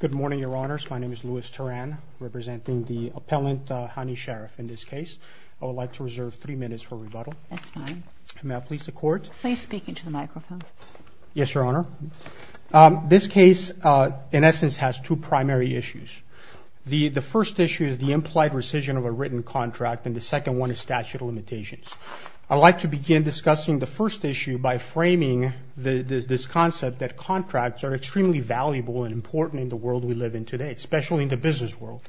Good morning, Your Honors. My name is Louis Turan, representing the appellant, Hani Sharaf, in this case. I would like to reserve three minutes for rebuttal. That's fine. May I please support? Please speak into the microphone. Yes, Your Honor. This case, in essence, has two primary issues. The first issue is the implied rescission of a written contract, and the second one is statute of limitations. I'd like to begin discussing the first issue by framing this concept that contracts are extremely valuable and important in the world we live in today, especially in the business world.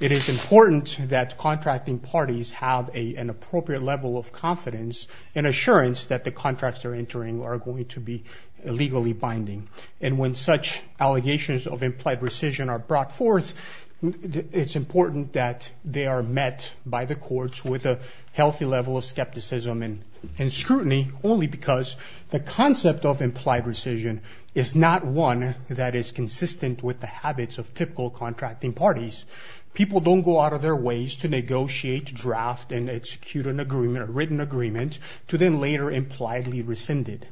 It is important that contracting parties have an appropriate level of confidence and assurance that the contracts they're entering are going to be legally binding. And when such allegations of implied rescission are brought forth, it's important that they are met by the courts with a healthy level of skepticism and scrutiny, only because the concept of implied rescission is not one that is consistent with the habits of typical contracting parties. People don't go out of their ways to negotiate, draft, and execute an agreement, a written agreement, to then later impliedly rescind it.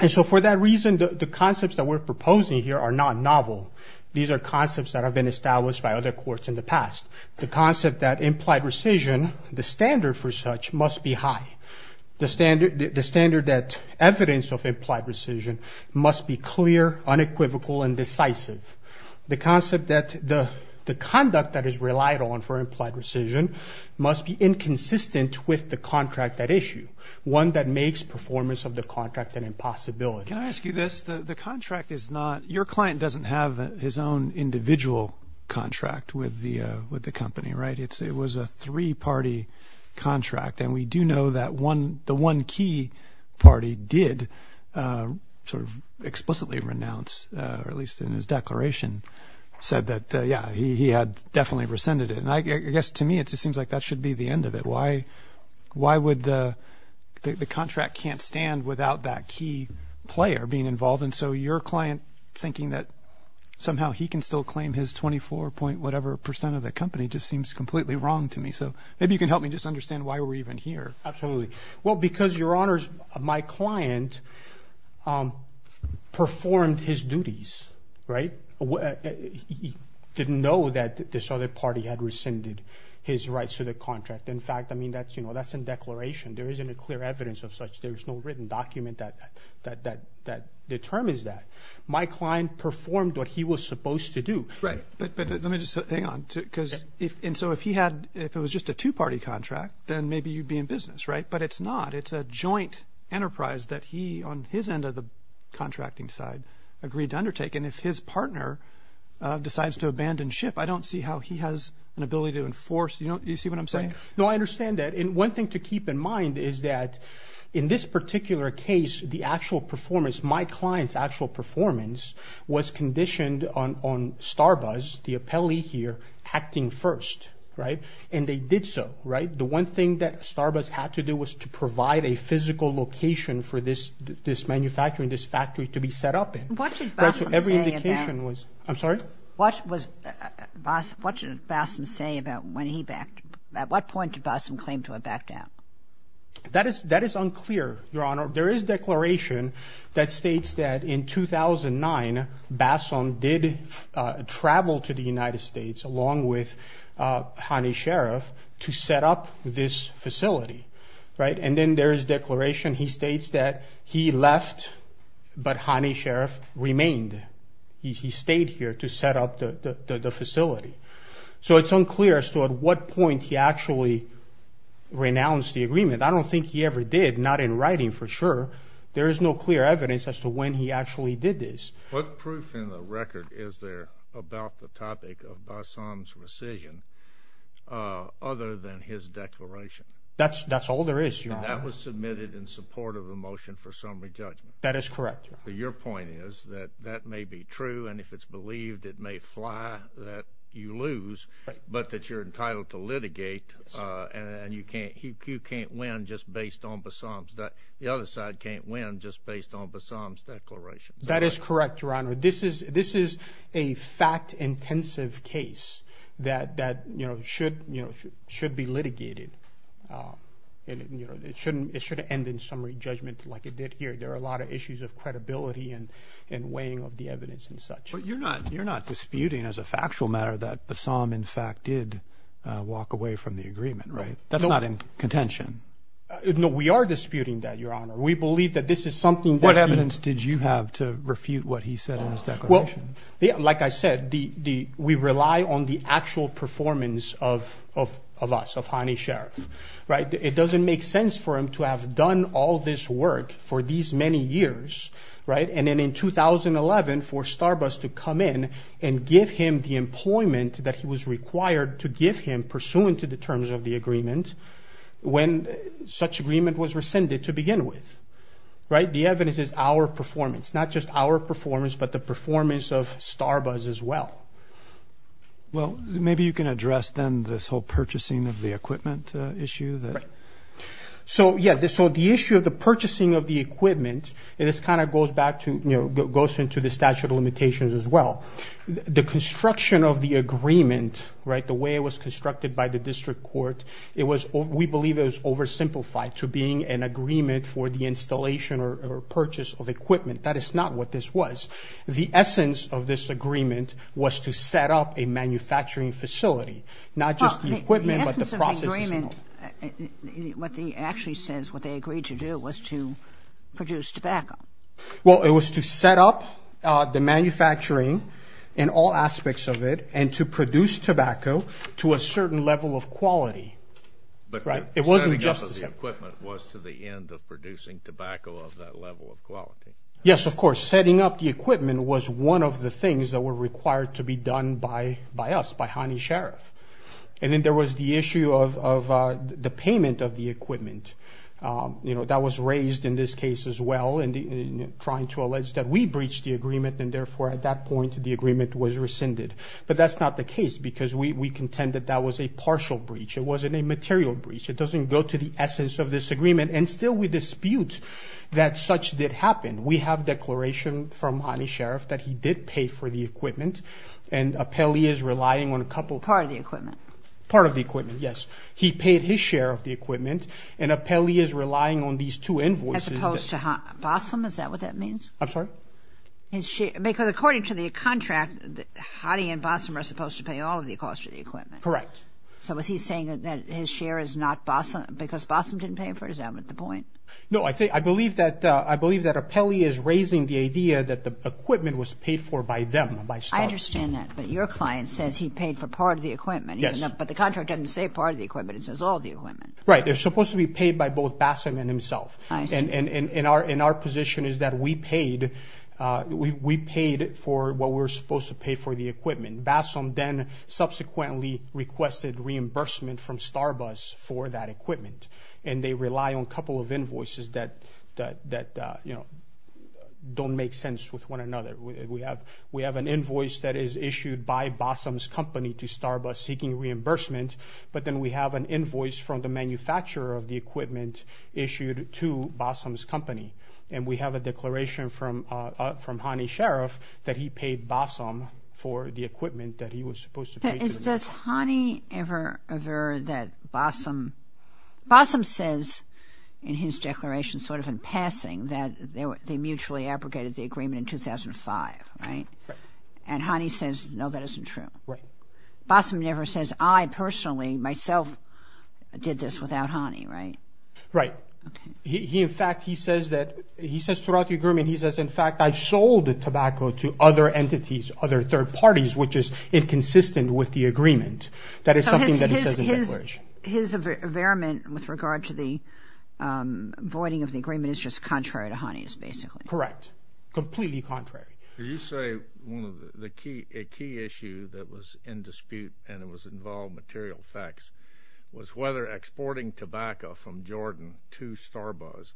And so for that reason, the concepts that we're proposing here are not novel. These are concepts that have been established by other courts in the past. The concept that implied rescission, the standard for such, must be high. The standard that evidence of implied rescission must be clear, unequivocal, and decisive. The concept that the conduct that is relied on for implied rescission must be inconsistent with the contract at issue, one that makes performance of the contract an impossibility. Can I ask you this? The contract is not – your client doesn't have his own individual contract with the company, right? It was a three-party contract, and we do know that the one key party did sort of explicitly renounce, or at least in his declaration said that, yeah, he had definitely rescinded it. And I guess to me it just seems like that should be the end of it. Why would – the contract can't stand without that key player being involved, and so your client thinking that somehow he can still claim his 24-point-whatever percent of the company just seems completely wrong to me. So maybe you can help me just understand why we're even here. Absolutely. Well, because, Your Honors, my client performed his duties, right? He didn't know that this other party had rescinded his rights to the contract. In fact, I mean, that's in declaration. There isn't a clear evidence of such. There's no written document that determines that. My client performed what he was supposed to do. Right. But let me just – hang on. And so if he had – if it was just a two-party contract, then maybe you'd be in business, right? But it's not. It's a joint enterprise that he, on his end of the contracting side, agreed to undertake. And if his partner decides to abandon ship, I don't see how he has an ability to enforce – you see what I'm saying? Right. No, I understand that. And one thing to keep in mind is that in this particular case, the actual performance, my client's actual performance, was conditioned on Starbuzz, the appellee here, acting first. Right? And they did so. Right? The one thing that Starbuzz had to do was to provide a physical location for this manufacturing, this factory, to be set up in. What did Bassam say about – Every indication was – I'm sorry? What was – what did Bassam say about when he backed – at what point did Bassam claim to have backed out? That is unclear, Your Honor. There is declaration that states that in 2009, Bassam did travel to the United States along with Hani Sharaf to set up this facility. Right? And then there is declaration he states that he left but Hani Sharaf remained. He stayed here to set up the facility. So it's unclear as to at what point he actually renounced the agreement. I don't think he ever did, not in writing for sure. There is no clear evidence as to when he actually did this. What proof in the record is there about the topic of Bassam's rescission other than his declaration? That's all there is, Your Honor. And that was submitted in support of a motion for summary judgment. That is correct, Your Honor. Your point is that that may be true, and if it's believed, it may fly that you lose but that you're entitled to litigate and you can't win just based on Bassam's – the other side can't win just based on Bassam's declaration. That is correct, Your Honor. This is a fact-intensive case that should be litigated. It shouldn't – it should end in summary judgment like it did here. There are a lot of issues of credibility and weighing of the evidence and such. But you're not disputing as a factual matter that Bassam, in fact, did walk away from the agreement, right? That's not in contention. No, we are disputing that, Your Honor. We believe that this is something that he – What evidence did you have to refute what he said in his declaration? Well, like I said, we rely on the actual performance of us, of Hani Sheriff. It doesn't make sense for him to have done all this work for these many years, right, and then in 2011 for Starbuzz to come in and give him the employment that he was required to give him pursuant to the terms of the agreement when such agreement was rescinded to begin with, right? The evidence is our performance, not just our performance but the performance of Starbuzz as well. Well, maybe you can address then this whole purchasing of the equipment issue. Right. So, yeah, so the issue of the purchasing of the equipment, and this kind of goes back to – goes into the statute of limitations as well. The construction of the agreement, right, the way it was constructed by the district court, we believe it was oversimplified to being an agreement for the installation or purchase of equipment. That is not what this was. The essence of this agreement was to set up a manufacturing facility, not just the equipment but the process as a whole. The essence of the agreement, what it actually says, what they agreed to do was to produce tobacco. Well, it was to set up the manufacturing in all aspects of it and to produce tobacco to a certain level of quality, right? Setting up the equipment was to the end of producing tobacco of that level of quality. Yes, of course. Setting up the equipment was one of the things that were required to be done by us, by Hany Sheriff. And then there was the issue of the payment of the equipment. That was raised in this case as well in trying to allege that we breached the agreement and therefore at that point the agreement was rescinded. But that's not the case because we contend that that was a partial breach. It wasn't a material breach. It doesn't go to the essence of this agreement, and still we dispute that such did happen. We have declaration from Hany Sheriff that he did pay for the equipment and Apelli is relying on a couple of things. Part of the equipment. Part of the equipment, yes. He paid his share of the equipment and Apelli is relying on these two invoices. As opposed to Bossom, is that what that means? I'm sorry? Because according to the contract, Hany and Bossom are supposed to pay all of the costs for the equipment. Correct. So is he saying that his share is not Bossom because Bossom didn't pay for it? Is that the point? No, I believe that Apelli is raising the idea that the equipment was paid for by them, by Starbus. I understand that, but your client says he paid for part of the equipment. Yes. But the contract doesn't say part of the equipment. It says all the equipment. Right. They're supposed to be paid by both Bossom and himself. I see. And our position is that we paid for what we were supposed to pay for the equipment. Bossom then subsequently requested reimbursement from Starbus for that equipment, and they rely on a couple of invoices that don't make sense with one another. We have an invoice that is issued by Bossom's company to Starbus seeking reimbursement, but then we have an invoice from the manufacturer of the equipment issued to Bossom's company, and we have a declaration from Hany Sheriff that he paid Bossom for the equipment that he was supposed to pay for. Does Hany ever avert that Bossom – Bossom says in his declaration, sort of in passing, that they mutually abrogated the agreement in 2005, right? Right. And Hany says, no, that isn't true. Right. Bossom never says, I personally, myself, did this without Hany, right? Right. Okay. In fact, he says throughout the agreement, he says, in fact, I sold tobacco to other entities, other third parties, which is inconsistent with the agreement. That is something that he says in his declaration. So his averiment with regard to the voiding of the agreement is just contrary to Hany's, basically. Correct. Completely contrary. Did you say a key issue that was in dispute, and it involved material facts, was whether exporting tobacco from Jordan to Starbus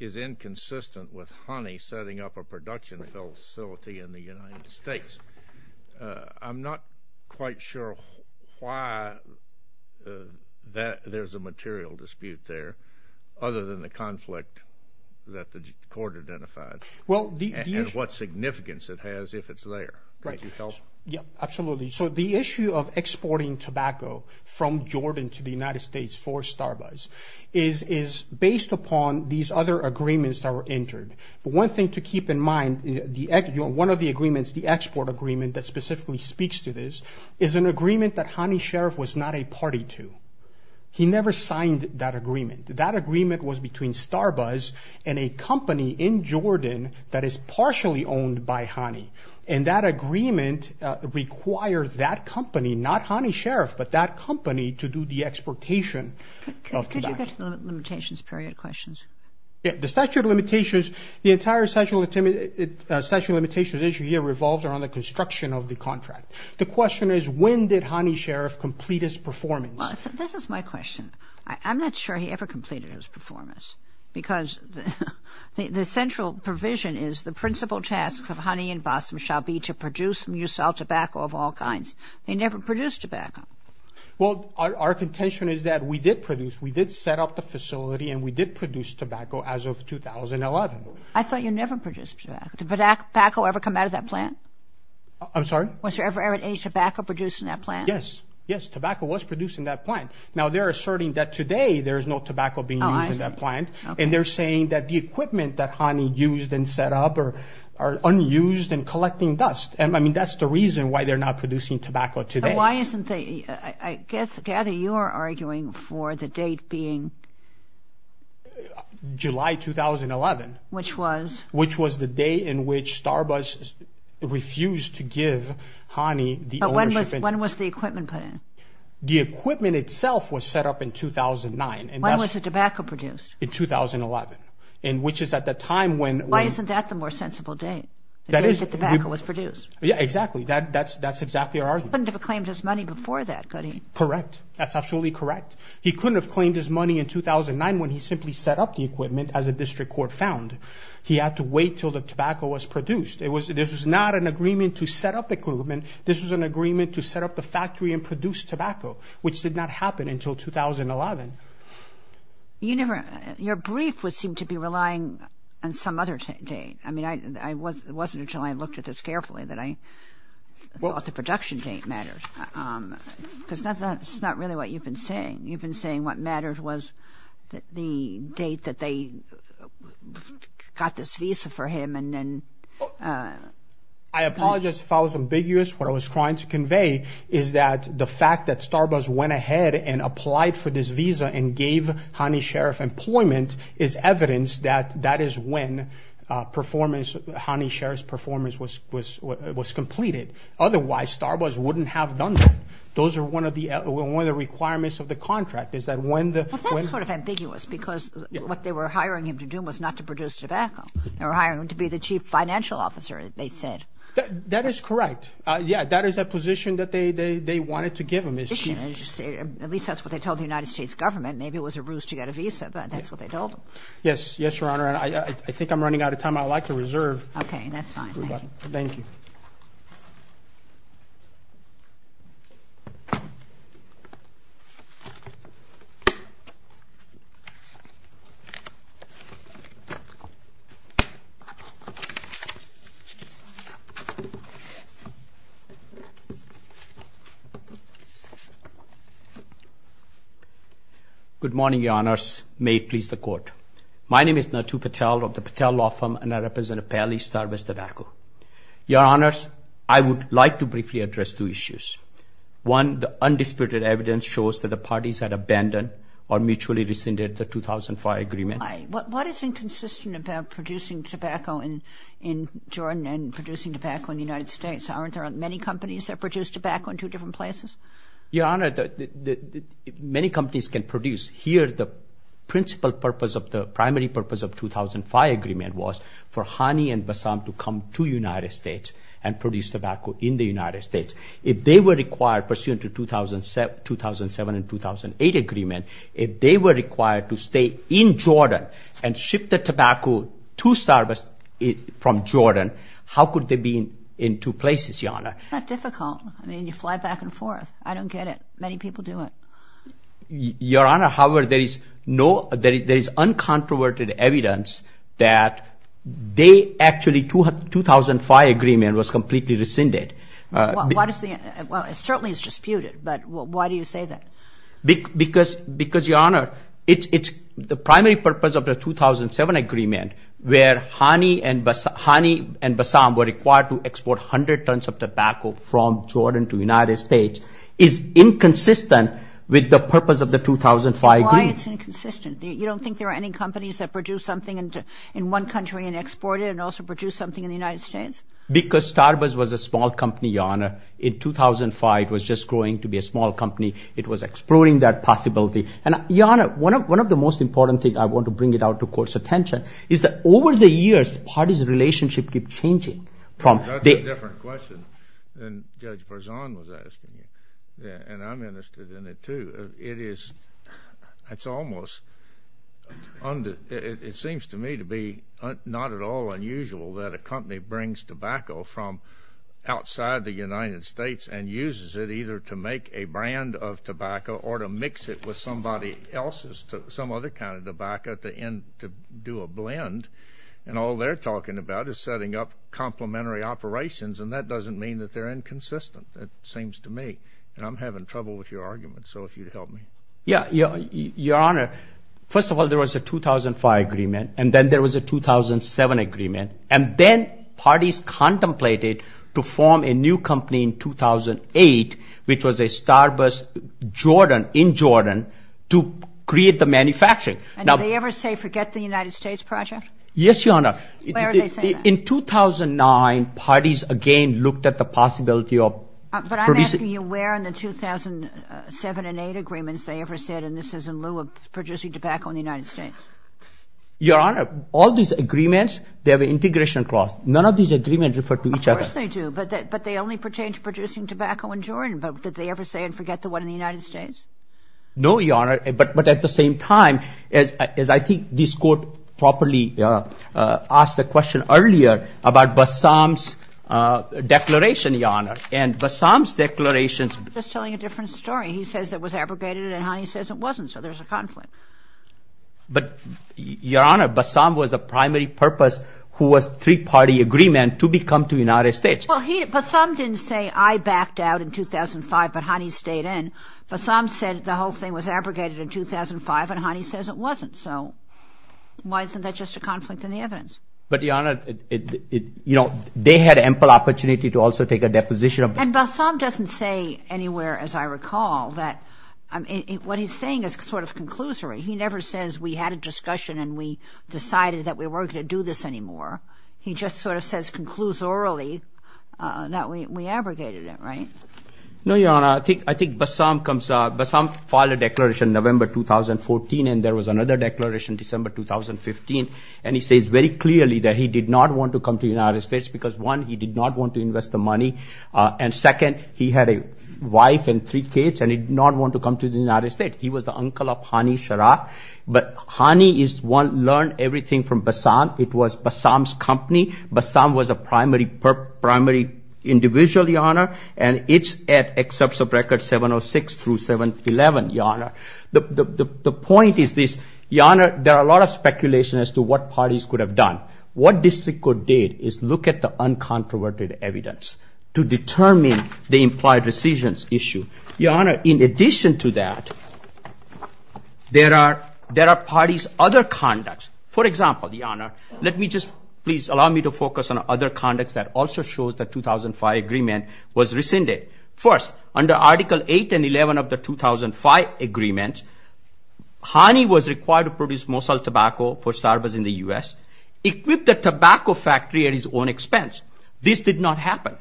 is inconsistent with Hany setting up a production facility in the United States. I'm not quite sure why there's a material dispute there other than the conflict that the court identified. Well, the issue – And what significance it has if it's there. Right. Could you help? Yeah, absolutely. So the issue of exporting tobacco from Jordan to the United States for Starbus is based upon these other agreements that were entered. But one thing to keep in mind, one of the agreements, the export agreement that specifically speaks to this, is an agreement that Hany Sheriff was not a party to. He never signed that agreement. That agreement was between Starbus and a company in Jordan that is partially owned by Hany. And that agreement required that company, not Hany Sheriff, but that company, to do the exportation of tobacco. Could you go to the limitations period questions? Yeah. The statute of limitations, the entire statute of limitations issue here revolves around the construction of the contract. The question is, when did Hany Sheriff complete his performance? This is my question. I'm not sure he ever completed his performance because the central provision is, the principal tasks of Hany and Basim shall be to produce and use all tobacco of all kinds. They never produced tobacco. Well, our contention is that we did produce. We did set up the facility and we did produce tobacco as of 2011. I thought you never produced tobacco. Did tobacco ever come out of that plant? I'm sorry? Was there ever any tobacco produced in that plant? Yes. Yes, tobacco was produced in that plant. Now, they're asserting that today there is no tobacco being used in that plant. And they're saying that the equipment that Hany used and set up are unused and collecting dust. I mean, that's the reason why they're not producing tobacco today. I gather you are arguing for the date being July 2011. Which was? Which was the day in which Starbuzz refused to give Hany the ownership. But when was the equipment put in? The equipment itself was set up in 2009. When was the tobacco produced? In 2011, which is at the time when... Why isn't that the more sensible date? The day the tobacco was produced. Yeah, exactly. That's exactly our argument. He couldn't have claimed his money before that, could he? Correct. That's absolutely correct. He couldn't have claimed his money in 2009 when he simply set up the equipment as a district court found. He had to wait until the tobacco was produced. It was... This was not an agreement to set up equipment. This was an agreement to set up the factory and produce tobacco, which did not happen until 2011. You never... Your brief would seem to be relying on some other date. I mean, it wasn't until I looked at this carefully that I thought the production date mattered. Because that's not really what you've been saying. You've been saying what mattered was the date that they got this visa for him and then... I apologize if I was ambiguous. What I was trying to convey is that the fact that Starbuzz went ahead and applied for this visa and gave Honey Sheriff employment is evidence that that is when Honey Sheriff's performance was completed. Otherwise, Starbuzz wouldn't have done that. Those are one of the requirements of the contract is that when the... But that's sort of ambiguous because what they were hiring him to do was not to produce tobacco. They were hiring him to be the chief financial officer, they said. That is correct. Yeah, that is a position that they wanted to give him as chief. At least that's what they told the United States government. Maybe it was a ruse to get a visa, but that's what they told him. Yes, Your Honor. I think I'm running out of time. I'd like to reserve. Okay, that's fine. Thank you. Good morning, Your Honors. May it please the Court. My name is Natu Patel of the Patel Law Firm, and I represent Appellee Starbuzz Tobacco. Your Honors, I would like to briefly address two issues. One, the undisputed evidence shows that the parties had abandoned or mutually rescinded the 2005 agreement. What is inconsistent about producing tobacco in Jordan and producing tobacco in the United States? Aren't there many companies that produce tobacco in two different places? Your Honor, many companies can produce. Here, the principal purpose of the primary purpose of 2005 agreement was for Honey and Basam to come to United States and produce tobacco in the United States. If they were required, pursuant to 2007 and 2008 agreement, if they were required to stay in Jordan and ship the tobacco to Starbuzz from Jordan, how could they be in two places, Your Honor? It's not difficult. I mean, you fly back and forth. I don't get it. Many people do it. Your Honor, however, there is no—there is uncontroverted evidence that they actually—2005 agreement was completely rescinded. Why does the—well, it certainly is disputed, but why do you say that? Because, Your Honor, it's the primary purpose of the 2007 agreement, where Honey and Basam were required to export 100 tons of tobacco from Jordan to United States, is inconsistent with the purpose of the 2005 agreement. Why is it inconsistent? You don't think there are any companies that produce something in one country and export it and also produce something in the United States? Because Starbuzz was a small company, Your Honor. In 2005, it was just growing to be a small company. It was exploring that possibility. And, Your Honor, one of the most important things—I want to bring it out to court's attention— is that over the years, the parties' relationship keep changing from— That's a different question than Judge Barzon was asking. And I'm interested in it, too. It is—it's almost—it seems to me to be not at all unusual that a company brings tobacco from outside the United States and uses it either to make a brand of tobacco or to mix it with somebody else's, some other kind of tobacco, to do a blend. And all they're talking about is setting up complementary operations, and that doesn't mean that they're inconsistent, it seems to me. And I'm having trouble with your argument, so if you'd help me. Yeah. Your Honor, first of all, there was a 2005 agreement, and then there was a 2007 agreement, and then parties contemplated to form a new company in 2008, which was a Starbust in Jordan, to create the manufacturing. And did they ever say forget the United States project? Yes, Your Honor. Where are they saying that? In 2009, parties again looked at the possibility of producing— But I'm asking you where in the 2007 and 2008 agreements they ever said, and this is in lieu of producing tobacco in the United States. Your Honor, all these agreements, they have an integration clause. None of these agreements refer to each other. Of course they do, but they only pertain to producing tobacco in Jordan. But did they ever say and forget the one in the United States? No, Your Honor. But at the same time, as I think this Court properly asked the question earlier about Bassam's declaration, Your Honor, and Bassam's declaration— I'm just telling a different story. He says it was abrogated and Hani says it wasn't, so there's a conflict. But, Your Honor, Bassam was the primary purpose who was three-party agreement to become to United States. Well, Bassam didn't say I backed out in 2005, but Hani stayed in. Bassam said the whole thing was abrogated in 2005, and Hani says it wasn't. So why isn't that just a conflict in the evidence? But, Your Honor, they had ample opportunity to also take a deposition of— And Bassam doesn't say anywhere, as I recall, that—what he's saying is sort of conclusory. He never says we had a discussion and we decided that we weren't going to do this anymore. He just sort of says conclusorily that we abrogated it, right? No, Your Honor. I think Bassam filed a declaration November 2014, and there was another declaration December 2015, and he says very clearly that he did not want to come to the United States because, one, he did not want to invest the money, and, second, he had a wife and three kids, and he did not want to come to the United States. He was the uncle of Hani Shara. But Hani is one—learned everything from Bassam. It was Bassam's company. Bassam was a primary individual, Your Honor, and it's at exception of record 706 through 711, Your Honor. The point is this, Your Honor, there are a lot of speculation as to what parties could have done. What district court did is look at the uncontroverted evidence to determine the implied rescissions issue. Your Honor, in addition to that, there are parties' other conducts. For example, Your Honor, let me just—please allow me to focus on other conducts that also shows the 2005 agreement was rescinded. First, under Article 8 and 11 of the 2005 agreement, Hani was required to produce Mosul tobacco for Starbuzz in the U.S., equip the tobacco factory at his own expense. This did not happen.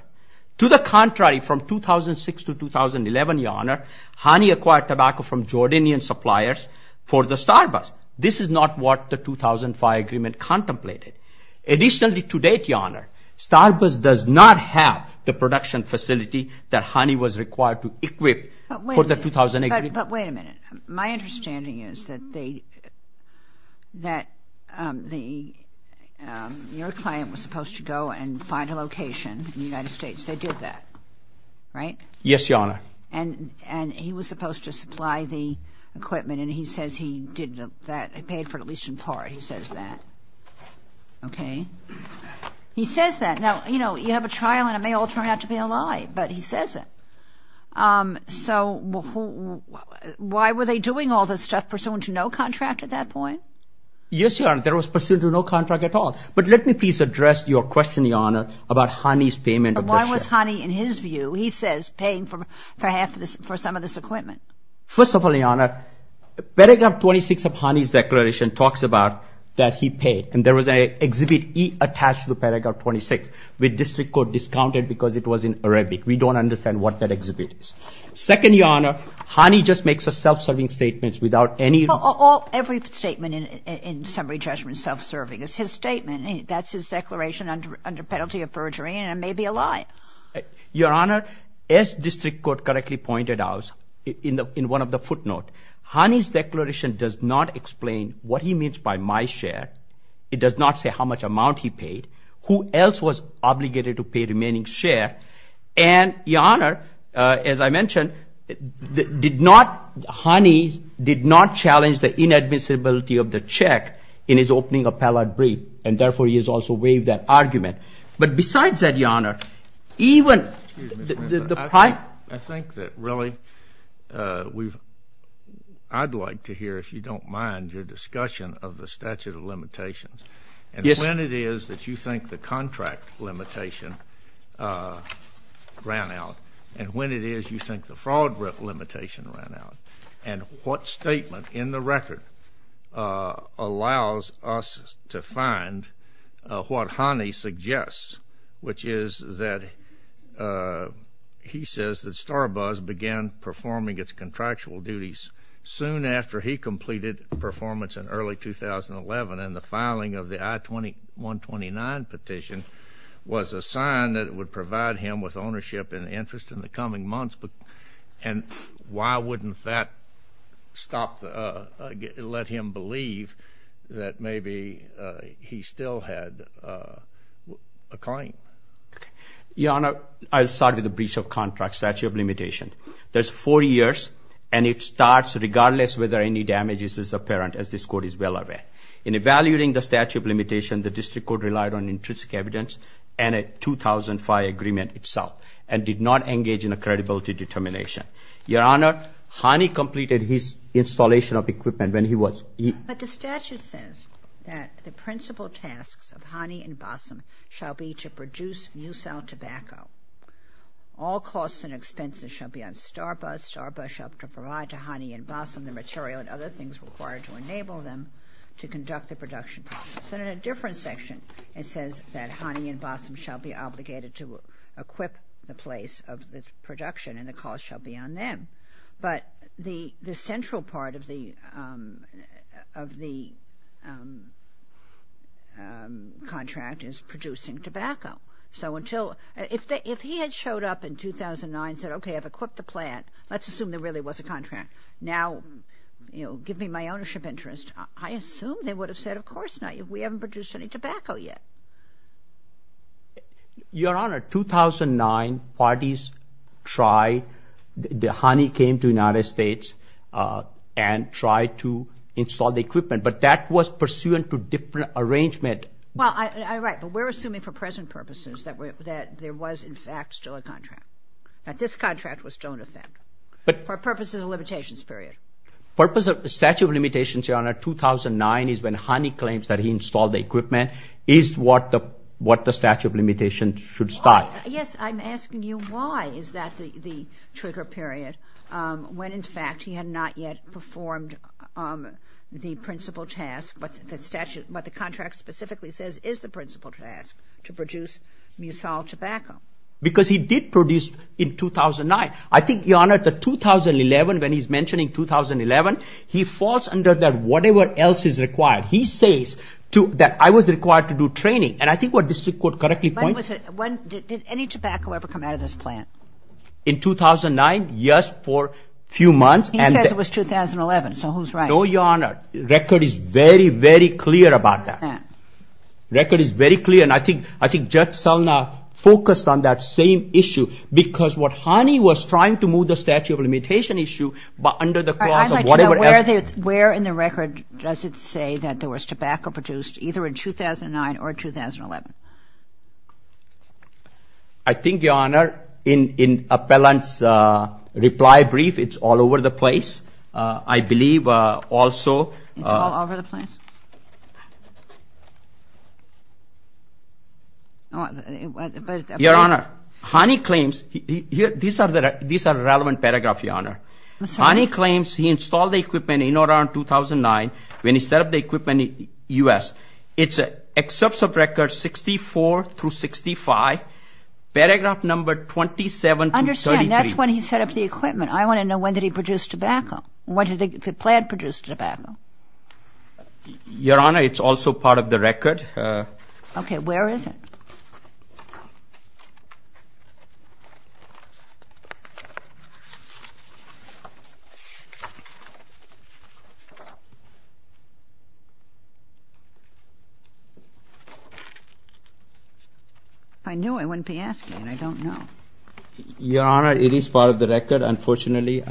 To the contrary, from 2006 to 2011, Your Honor, Hani acquired tobacco from Jordanian suppliers for the Starbuzz. This is not what the 2005 agreement contemplated. Additionally, to date, Your Honor, Starbuzz does not have the production facility that Hani was required to equip for the 2000 agreement. But wait a minute. My understanding is that your client was supposed to go and find a location in the United States. They did that, right? Yes, Your Honor. And he was supposed to supply the equipment, and he says he did that. He paid for it at least in part. He says that. Okay. He says that. Now, you know, you have a trial, and it may all turn out to be a lie, but he says it. So why were they doing all this stuff pursuant to no contract at that point? Yes, Your Honor, there was pursuant to no contract at all. But let me please address your question, Your Honor, about Hani's payment. Why was Hani, in his view, he says, paying for some of this equipment? First of all, Your Honor, Paragraph 26 of Hani's declaration talks about that he paid, and there was an Exhibit E attached to Paragraph 26 with district court discounted because it was in Arabic. We don't understand what that exhibit is. Second, Your Honor, Hani just makes a self-serving statement without any ---- Every statement in summary judgment self-serving is his statement. That's his declaration under penalty of perjury, and it may be a lie. Your Honor, as district court correctly pointed out in one of the footnotes, Hani's declaration does not explain what he means by my share. It does not say how much amount he paid, who else was obligated to pay remaining share, and Your Honor, as I mentioned, did not ---- Hani did not challenge the inadmissibility of the check in his opening appellate brief, and therefore he has also waived that argument. But besides that, Your Honor, even ---- I think that really we've ---- I'd like to hear, if you don't mind, your discussion of the statute of limitations. Yes. And when it is that you think the contract limitation ran out, and when it is you think the fraud limitation ran out, and what statement in the record allows us to find what Hani suggests, which is that he says that Starbuzz began performing its contractual duties soon after he completed performance in early 2011, and the filing of the I-129 petition was a sign that it would provide him with ownership and interest in the coming months. And why wouldn't that stop the ---- let him believe that maybe he still had a claim? Your Honor, I'll start with the breach of contract statute of limitation. There's four years, and it starts regardless whether any damage is apparent, as this Court is well aware. In evaluating the statute of limitation, the district court relied on intrinsic evidence and a 2005 agreement itself, and did not engage in a credibility determination. Your Honor, Hani completed his installation of equipment when he was ---- But the statute says that the principal tasks of Hani and Bassam shall be to produce new cell tobacco. All costs and expenses shall be on Starbuzz. Starbuzz shall provide to Hani and Bassam the material and other things required to enable them to conduct the production process. And in a different section, it says that Hani and Bassam shall be obligated to equip the place of the production, and the cost shall be on them. But the central part of the contract is producing tobacco. So until ---- If he had showed up in 2009 and said, okay, I've equipped the plant. Let's assume there really was a contract. Now, you know, give me my ownership interest. I assume they would have said, of course not. We haven't produced any tobacco yet. Your Honor, 2009 parties tried. Hani came to the United States and tried to install the equipment. But that was pursuant to different arrangement. Well, right, but we're assuming for present purposes that there was, in fact, still a contract. That this contract was still in effect for purposes of limitations period. Purpose of statute of limitations, Your Honor, 2009 is when Hani claims that he installed the equipment, is what the statute of limitations should start. Yes, I'm asking you why is that the trigger period when, in fact, he had not yet performed the principal task. What the contract specifically says is the principal task to produce musal tobacco. Because he did produce in 2009. I think, Your Honor, the 2011, when he's mentioning 2011, he falls under that whatever else is required. He says that I was required to do training. And I think what District Court correctly points to ---- When was it? Did any tobacco ever come out of this plant? In 2009, yes, for a few months. He says it was 2011. So who's right? No, Your Honor, record is very, very clear about that. Record is very clear. And I think Judge Selna focused on that same issue. Because what Hani was trying to move the statute of limitation issue under the clause of whatever else. Where in the record does it say that there was tobacco produced either in 2009 or 2011? I think, Your Honor, in Appellant's reply brief, it's all over the place. I believe also ---- It's all over the place? Your Honor, Hani claims ---- these are relevant paragraphs, Your Honor. Hani claims he installed the equipment in or around 2009 when he set up the equipment in the U.S. It accepts a record 64 through 65, paragraph number 27 through 33. I understand. That's when he set up the equipment. I want to know when did he produce tobacco? When did the plant produce tobacco? Your Honor, it's also part of the record. Okay. Where is it? If I knew, I wouldn't be asking. I don't know. Your Honor, it is part of the record, unfortunately.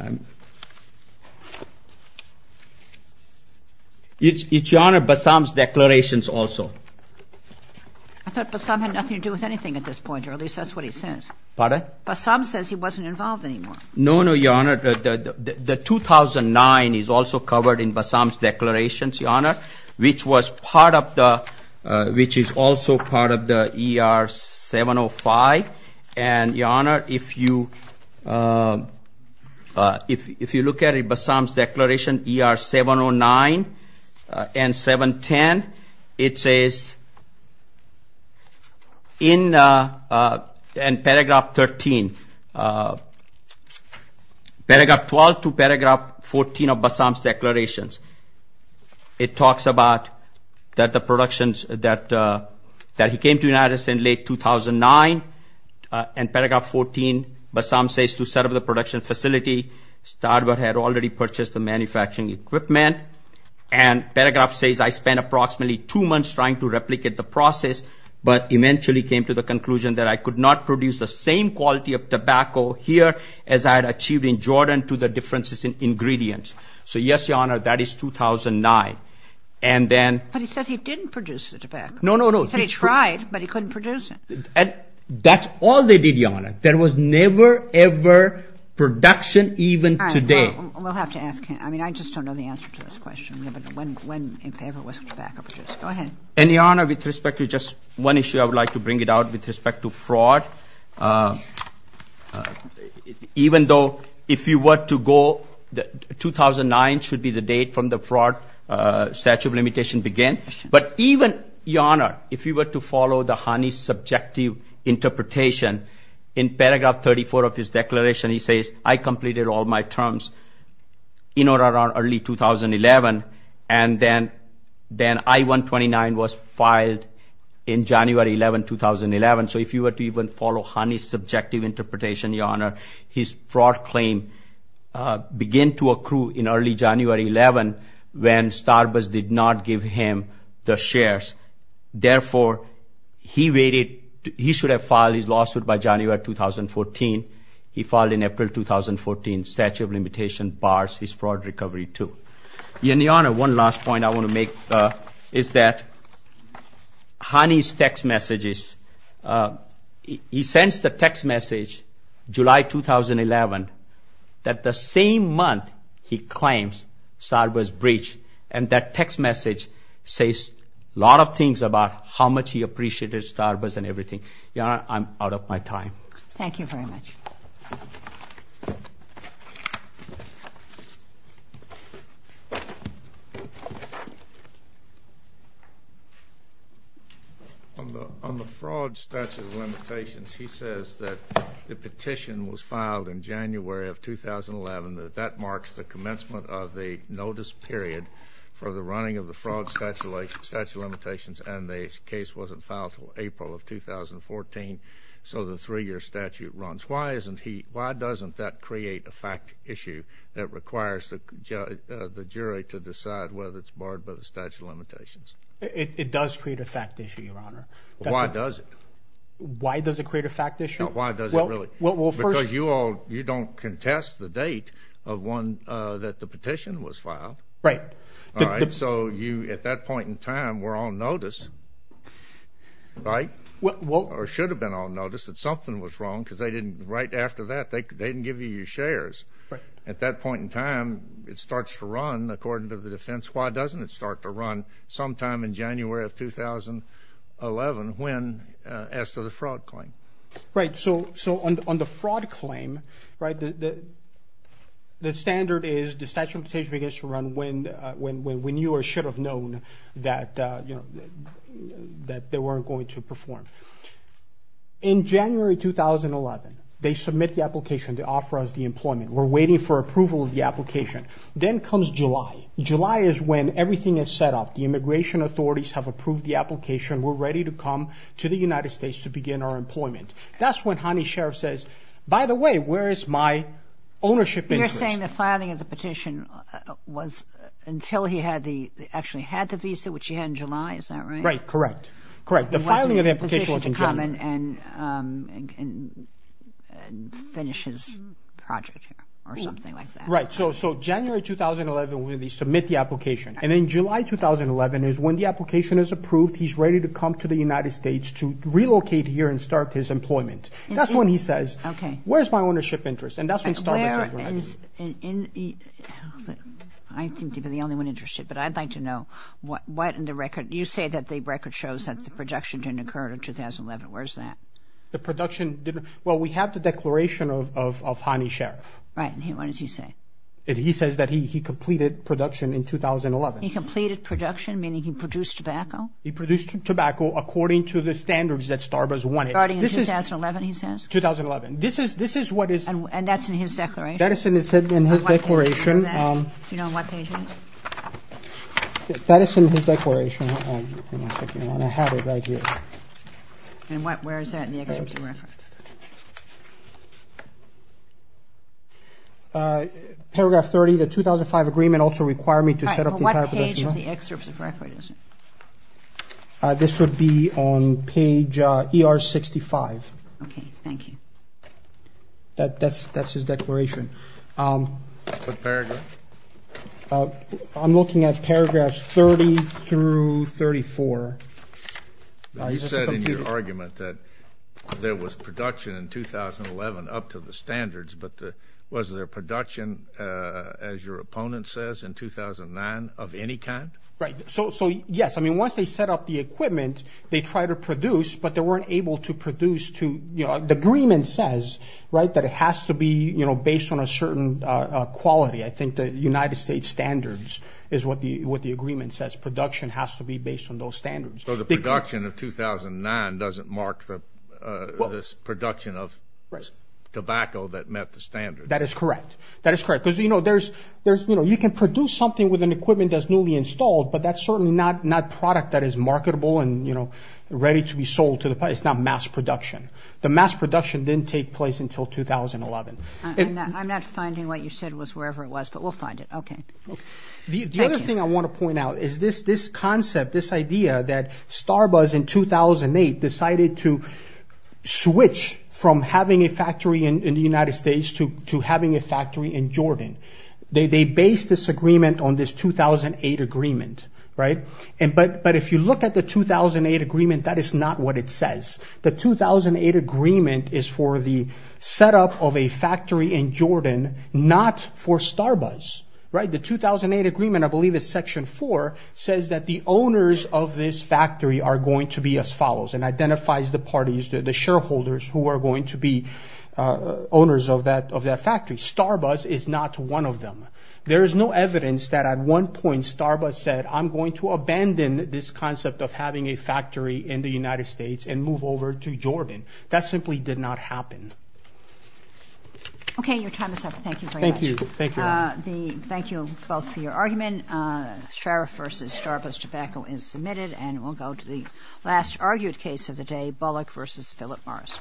It's, Your Honor, Bassam's declarations also. I thought Bassam had nothing to do with anything at this point, or at least that's what he says. Pardon? Bassam says he wasn't involved anymore. No, no, Your Honor. The 2009 is also covered in Bassam's declarations, Your Honor, which was part of the ---- which is also part of the ER 705. And, Your Honor, if you look at Bassam's declaration, ER 709 and 710, it says in paragraph 13, paragraph 12 to paragraph 14 of Bassam's declarations, it talks about that the productions that he came to United States in late 2009, and paragraph 14, Bassam says to set up the production facility, start what had already purchased the manufacturing equipment, and paragraph says, I spent approximately two months trying to replicate the process, but eventually came to the conclusion that I could not produce the same quality of tobacco here as I had achieved in Jordan to the differences in ingredients. So, yes, Your Honor, that is 2009. And then ---- But he says he didn't produce the tobacco. No, no, no. He said he tried, but he couldn't produce it. That's all they did, Your Honor. There was never, ever production even today. All right. Well, we'll have to ask him. I mean, I just don't know the answer to this question. When in favor was tobacco produced? Go ahead. And, Your Honor, with respect to just one issue, I would like to bring it out with respect to fraud. Even though if you were to go, 2009 should be the date from the fraud statute of limitation began, but even, Your Honor, if you were to follow the Hani's subjective interpretation, in paragraph 34 of his declaration, he says, I completed all my terms in or around early 2011, and then I-129 was filed in January 11, 2011. So if you were to even follow Hani's subjective interpretation, Your Honor, his fraud claim began to accrue in early January 11 when Starbuzz did not give him the shares. Therefore, he should have filed his lawsuit by January 2014. He filed in April 2014, statute of limitation bars his fraud recovery too. Your Honor, one last point I want to make is that Hani's text messages, he sends the text message July 2011 that the same month he claims Starbuzz breached, and that text message says a lot of things about how much he appreciated Starbuzz and everything. Your Honor, I'm out of my time. Thank you very much. On the fraud statute of limitations, he says that the petition was filed in January of 2011, that that marks the commencement of the notice period for the running of the fraud statute of limitations, and the case wasn't filed until April of 2014, so the three-year statute runs. Why doesn't that create a fact issue that requires the jury to decide whether it's barred by the statute of limitations? It does create a fact issue, Your Honor. Why does it? Why does it create a fact issue? Why does it really? Well, first- Because you don't contest the date of when the petition was filed. Right. All right, so you, at that point in time, were on notice, right? Well- Or should have been on notice that something was wrong because they didn't, right after that, they didn't give you your shares. Right. At that point in time, it starts to run, according to the defense. Why doesn't it start to run sometime in January of 2011 when, as to the fraud claim? Right. So on the fraud claim, right, the standard is the statute of limitations begins to run when you or should have known that they weren't going to perform. In January 2011, they submit the application to offer us the employment. We're waiting for approval of the application. Then comes July. July is when everything is set up. The immigration authorities have approved the application. We're ready to come to the United States to begin our employment. That's when Hani's sheriff says, by the way, where is my ownership interest? You're saying the filing of the petition was until he had the, actually had the visa, which he had in July. Is that right? Right, correct. Correct. The filing of that petition was in January. He wasn't in a position to come and finish his project or something like that. Right. So January 2011 when they submit the application. And then July 2011 is when the application is approved. He's ready to come to the United States to relocate here and start his employment. That's when he says, where's my ownership interest? And that's when Starbucks is going to do it. I seem to be the only one interested, but I'd like to know what in the record, you say that the record shows that the projection didn't occur in 2011. Where is that? The production didn't, well, we have the declaration of Hani's sheriff. Right. And what does he say? He says that he completed production in 2011. He completed production, meaning he produced tobacco? He produced tobacco according to the standards that Starbucks wanted. Starting in 2011, he says? 2011. This is what is. And that's in his declaration? That is in his declaration. Do you know on what page it is? That is in his declaration. I have it right here. And where is that in the excerpt of the record? Paragraph 30, the 2005 agreement also required me to set up the entire production. Well, what page of the excerpt of the record is it? This would be on page ER 65. Okay. Thank you. That's his declaration. What paragraph? I'm looking at paragraphs 30 through 34. You said in your argument that there was production in 2011 up to the standards, but was there production, as your opponent says, in 2009 of any kind? Right. So, yes. I mean, once they set up the equipment, they tried to produce, but they weren't able to produce to, you know, the agreement says, right, that it has to be, you know, based on a certain quality. I think the United States standards is what the agreement says. Production has to be based on those standards. So the production of 2009 doesn't mark the production of tobacco that met the standards. That is correct. That is correct. Because, you know, there's, you know, you can produce something with an equipment that's newly installed, but that's certainly not product that is marketable and, you know, ready to be sold to the public. It's not mass production. The mass production didn't take place until 2011. I'm not finding what you said was wherever it was, but we'll find it. Okay. The other thing I want to point out is this concept, this idea that Starbuzz, in 2008, decided to switch from having a factory in the United States to having a factory in Jordan. They based this agreement on this 2008 agreement. Right. But if you look at the 2008 agreement, that is not what it says. The 2008 agreement is for the setup of a factory in Jordan, not for Starbuzz. Right. The 2008 agreement, I believe, is Section 4, says that the owners of this factory are going to be as follows and identifies the parties, the shareholders, who are going to be owners of that factory. Starbuzz is not one of them. There is no evidence that at one point Starbuzz said, I'm going to abandon this concept of having a factory in the United States and move over to Jordan. That simply did not happen. Okay. Your time is up. Thank you very much. Thank you. Thank you. Thank you both for your argument. Sheriff v. Starbuzz Tobacco is submitted, and we'll go to the last argued case of the day, Bullock v. Philip Morris.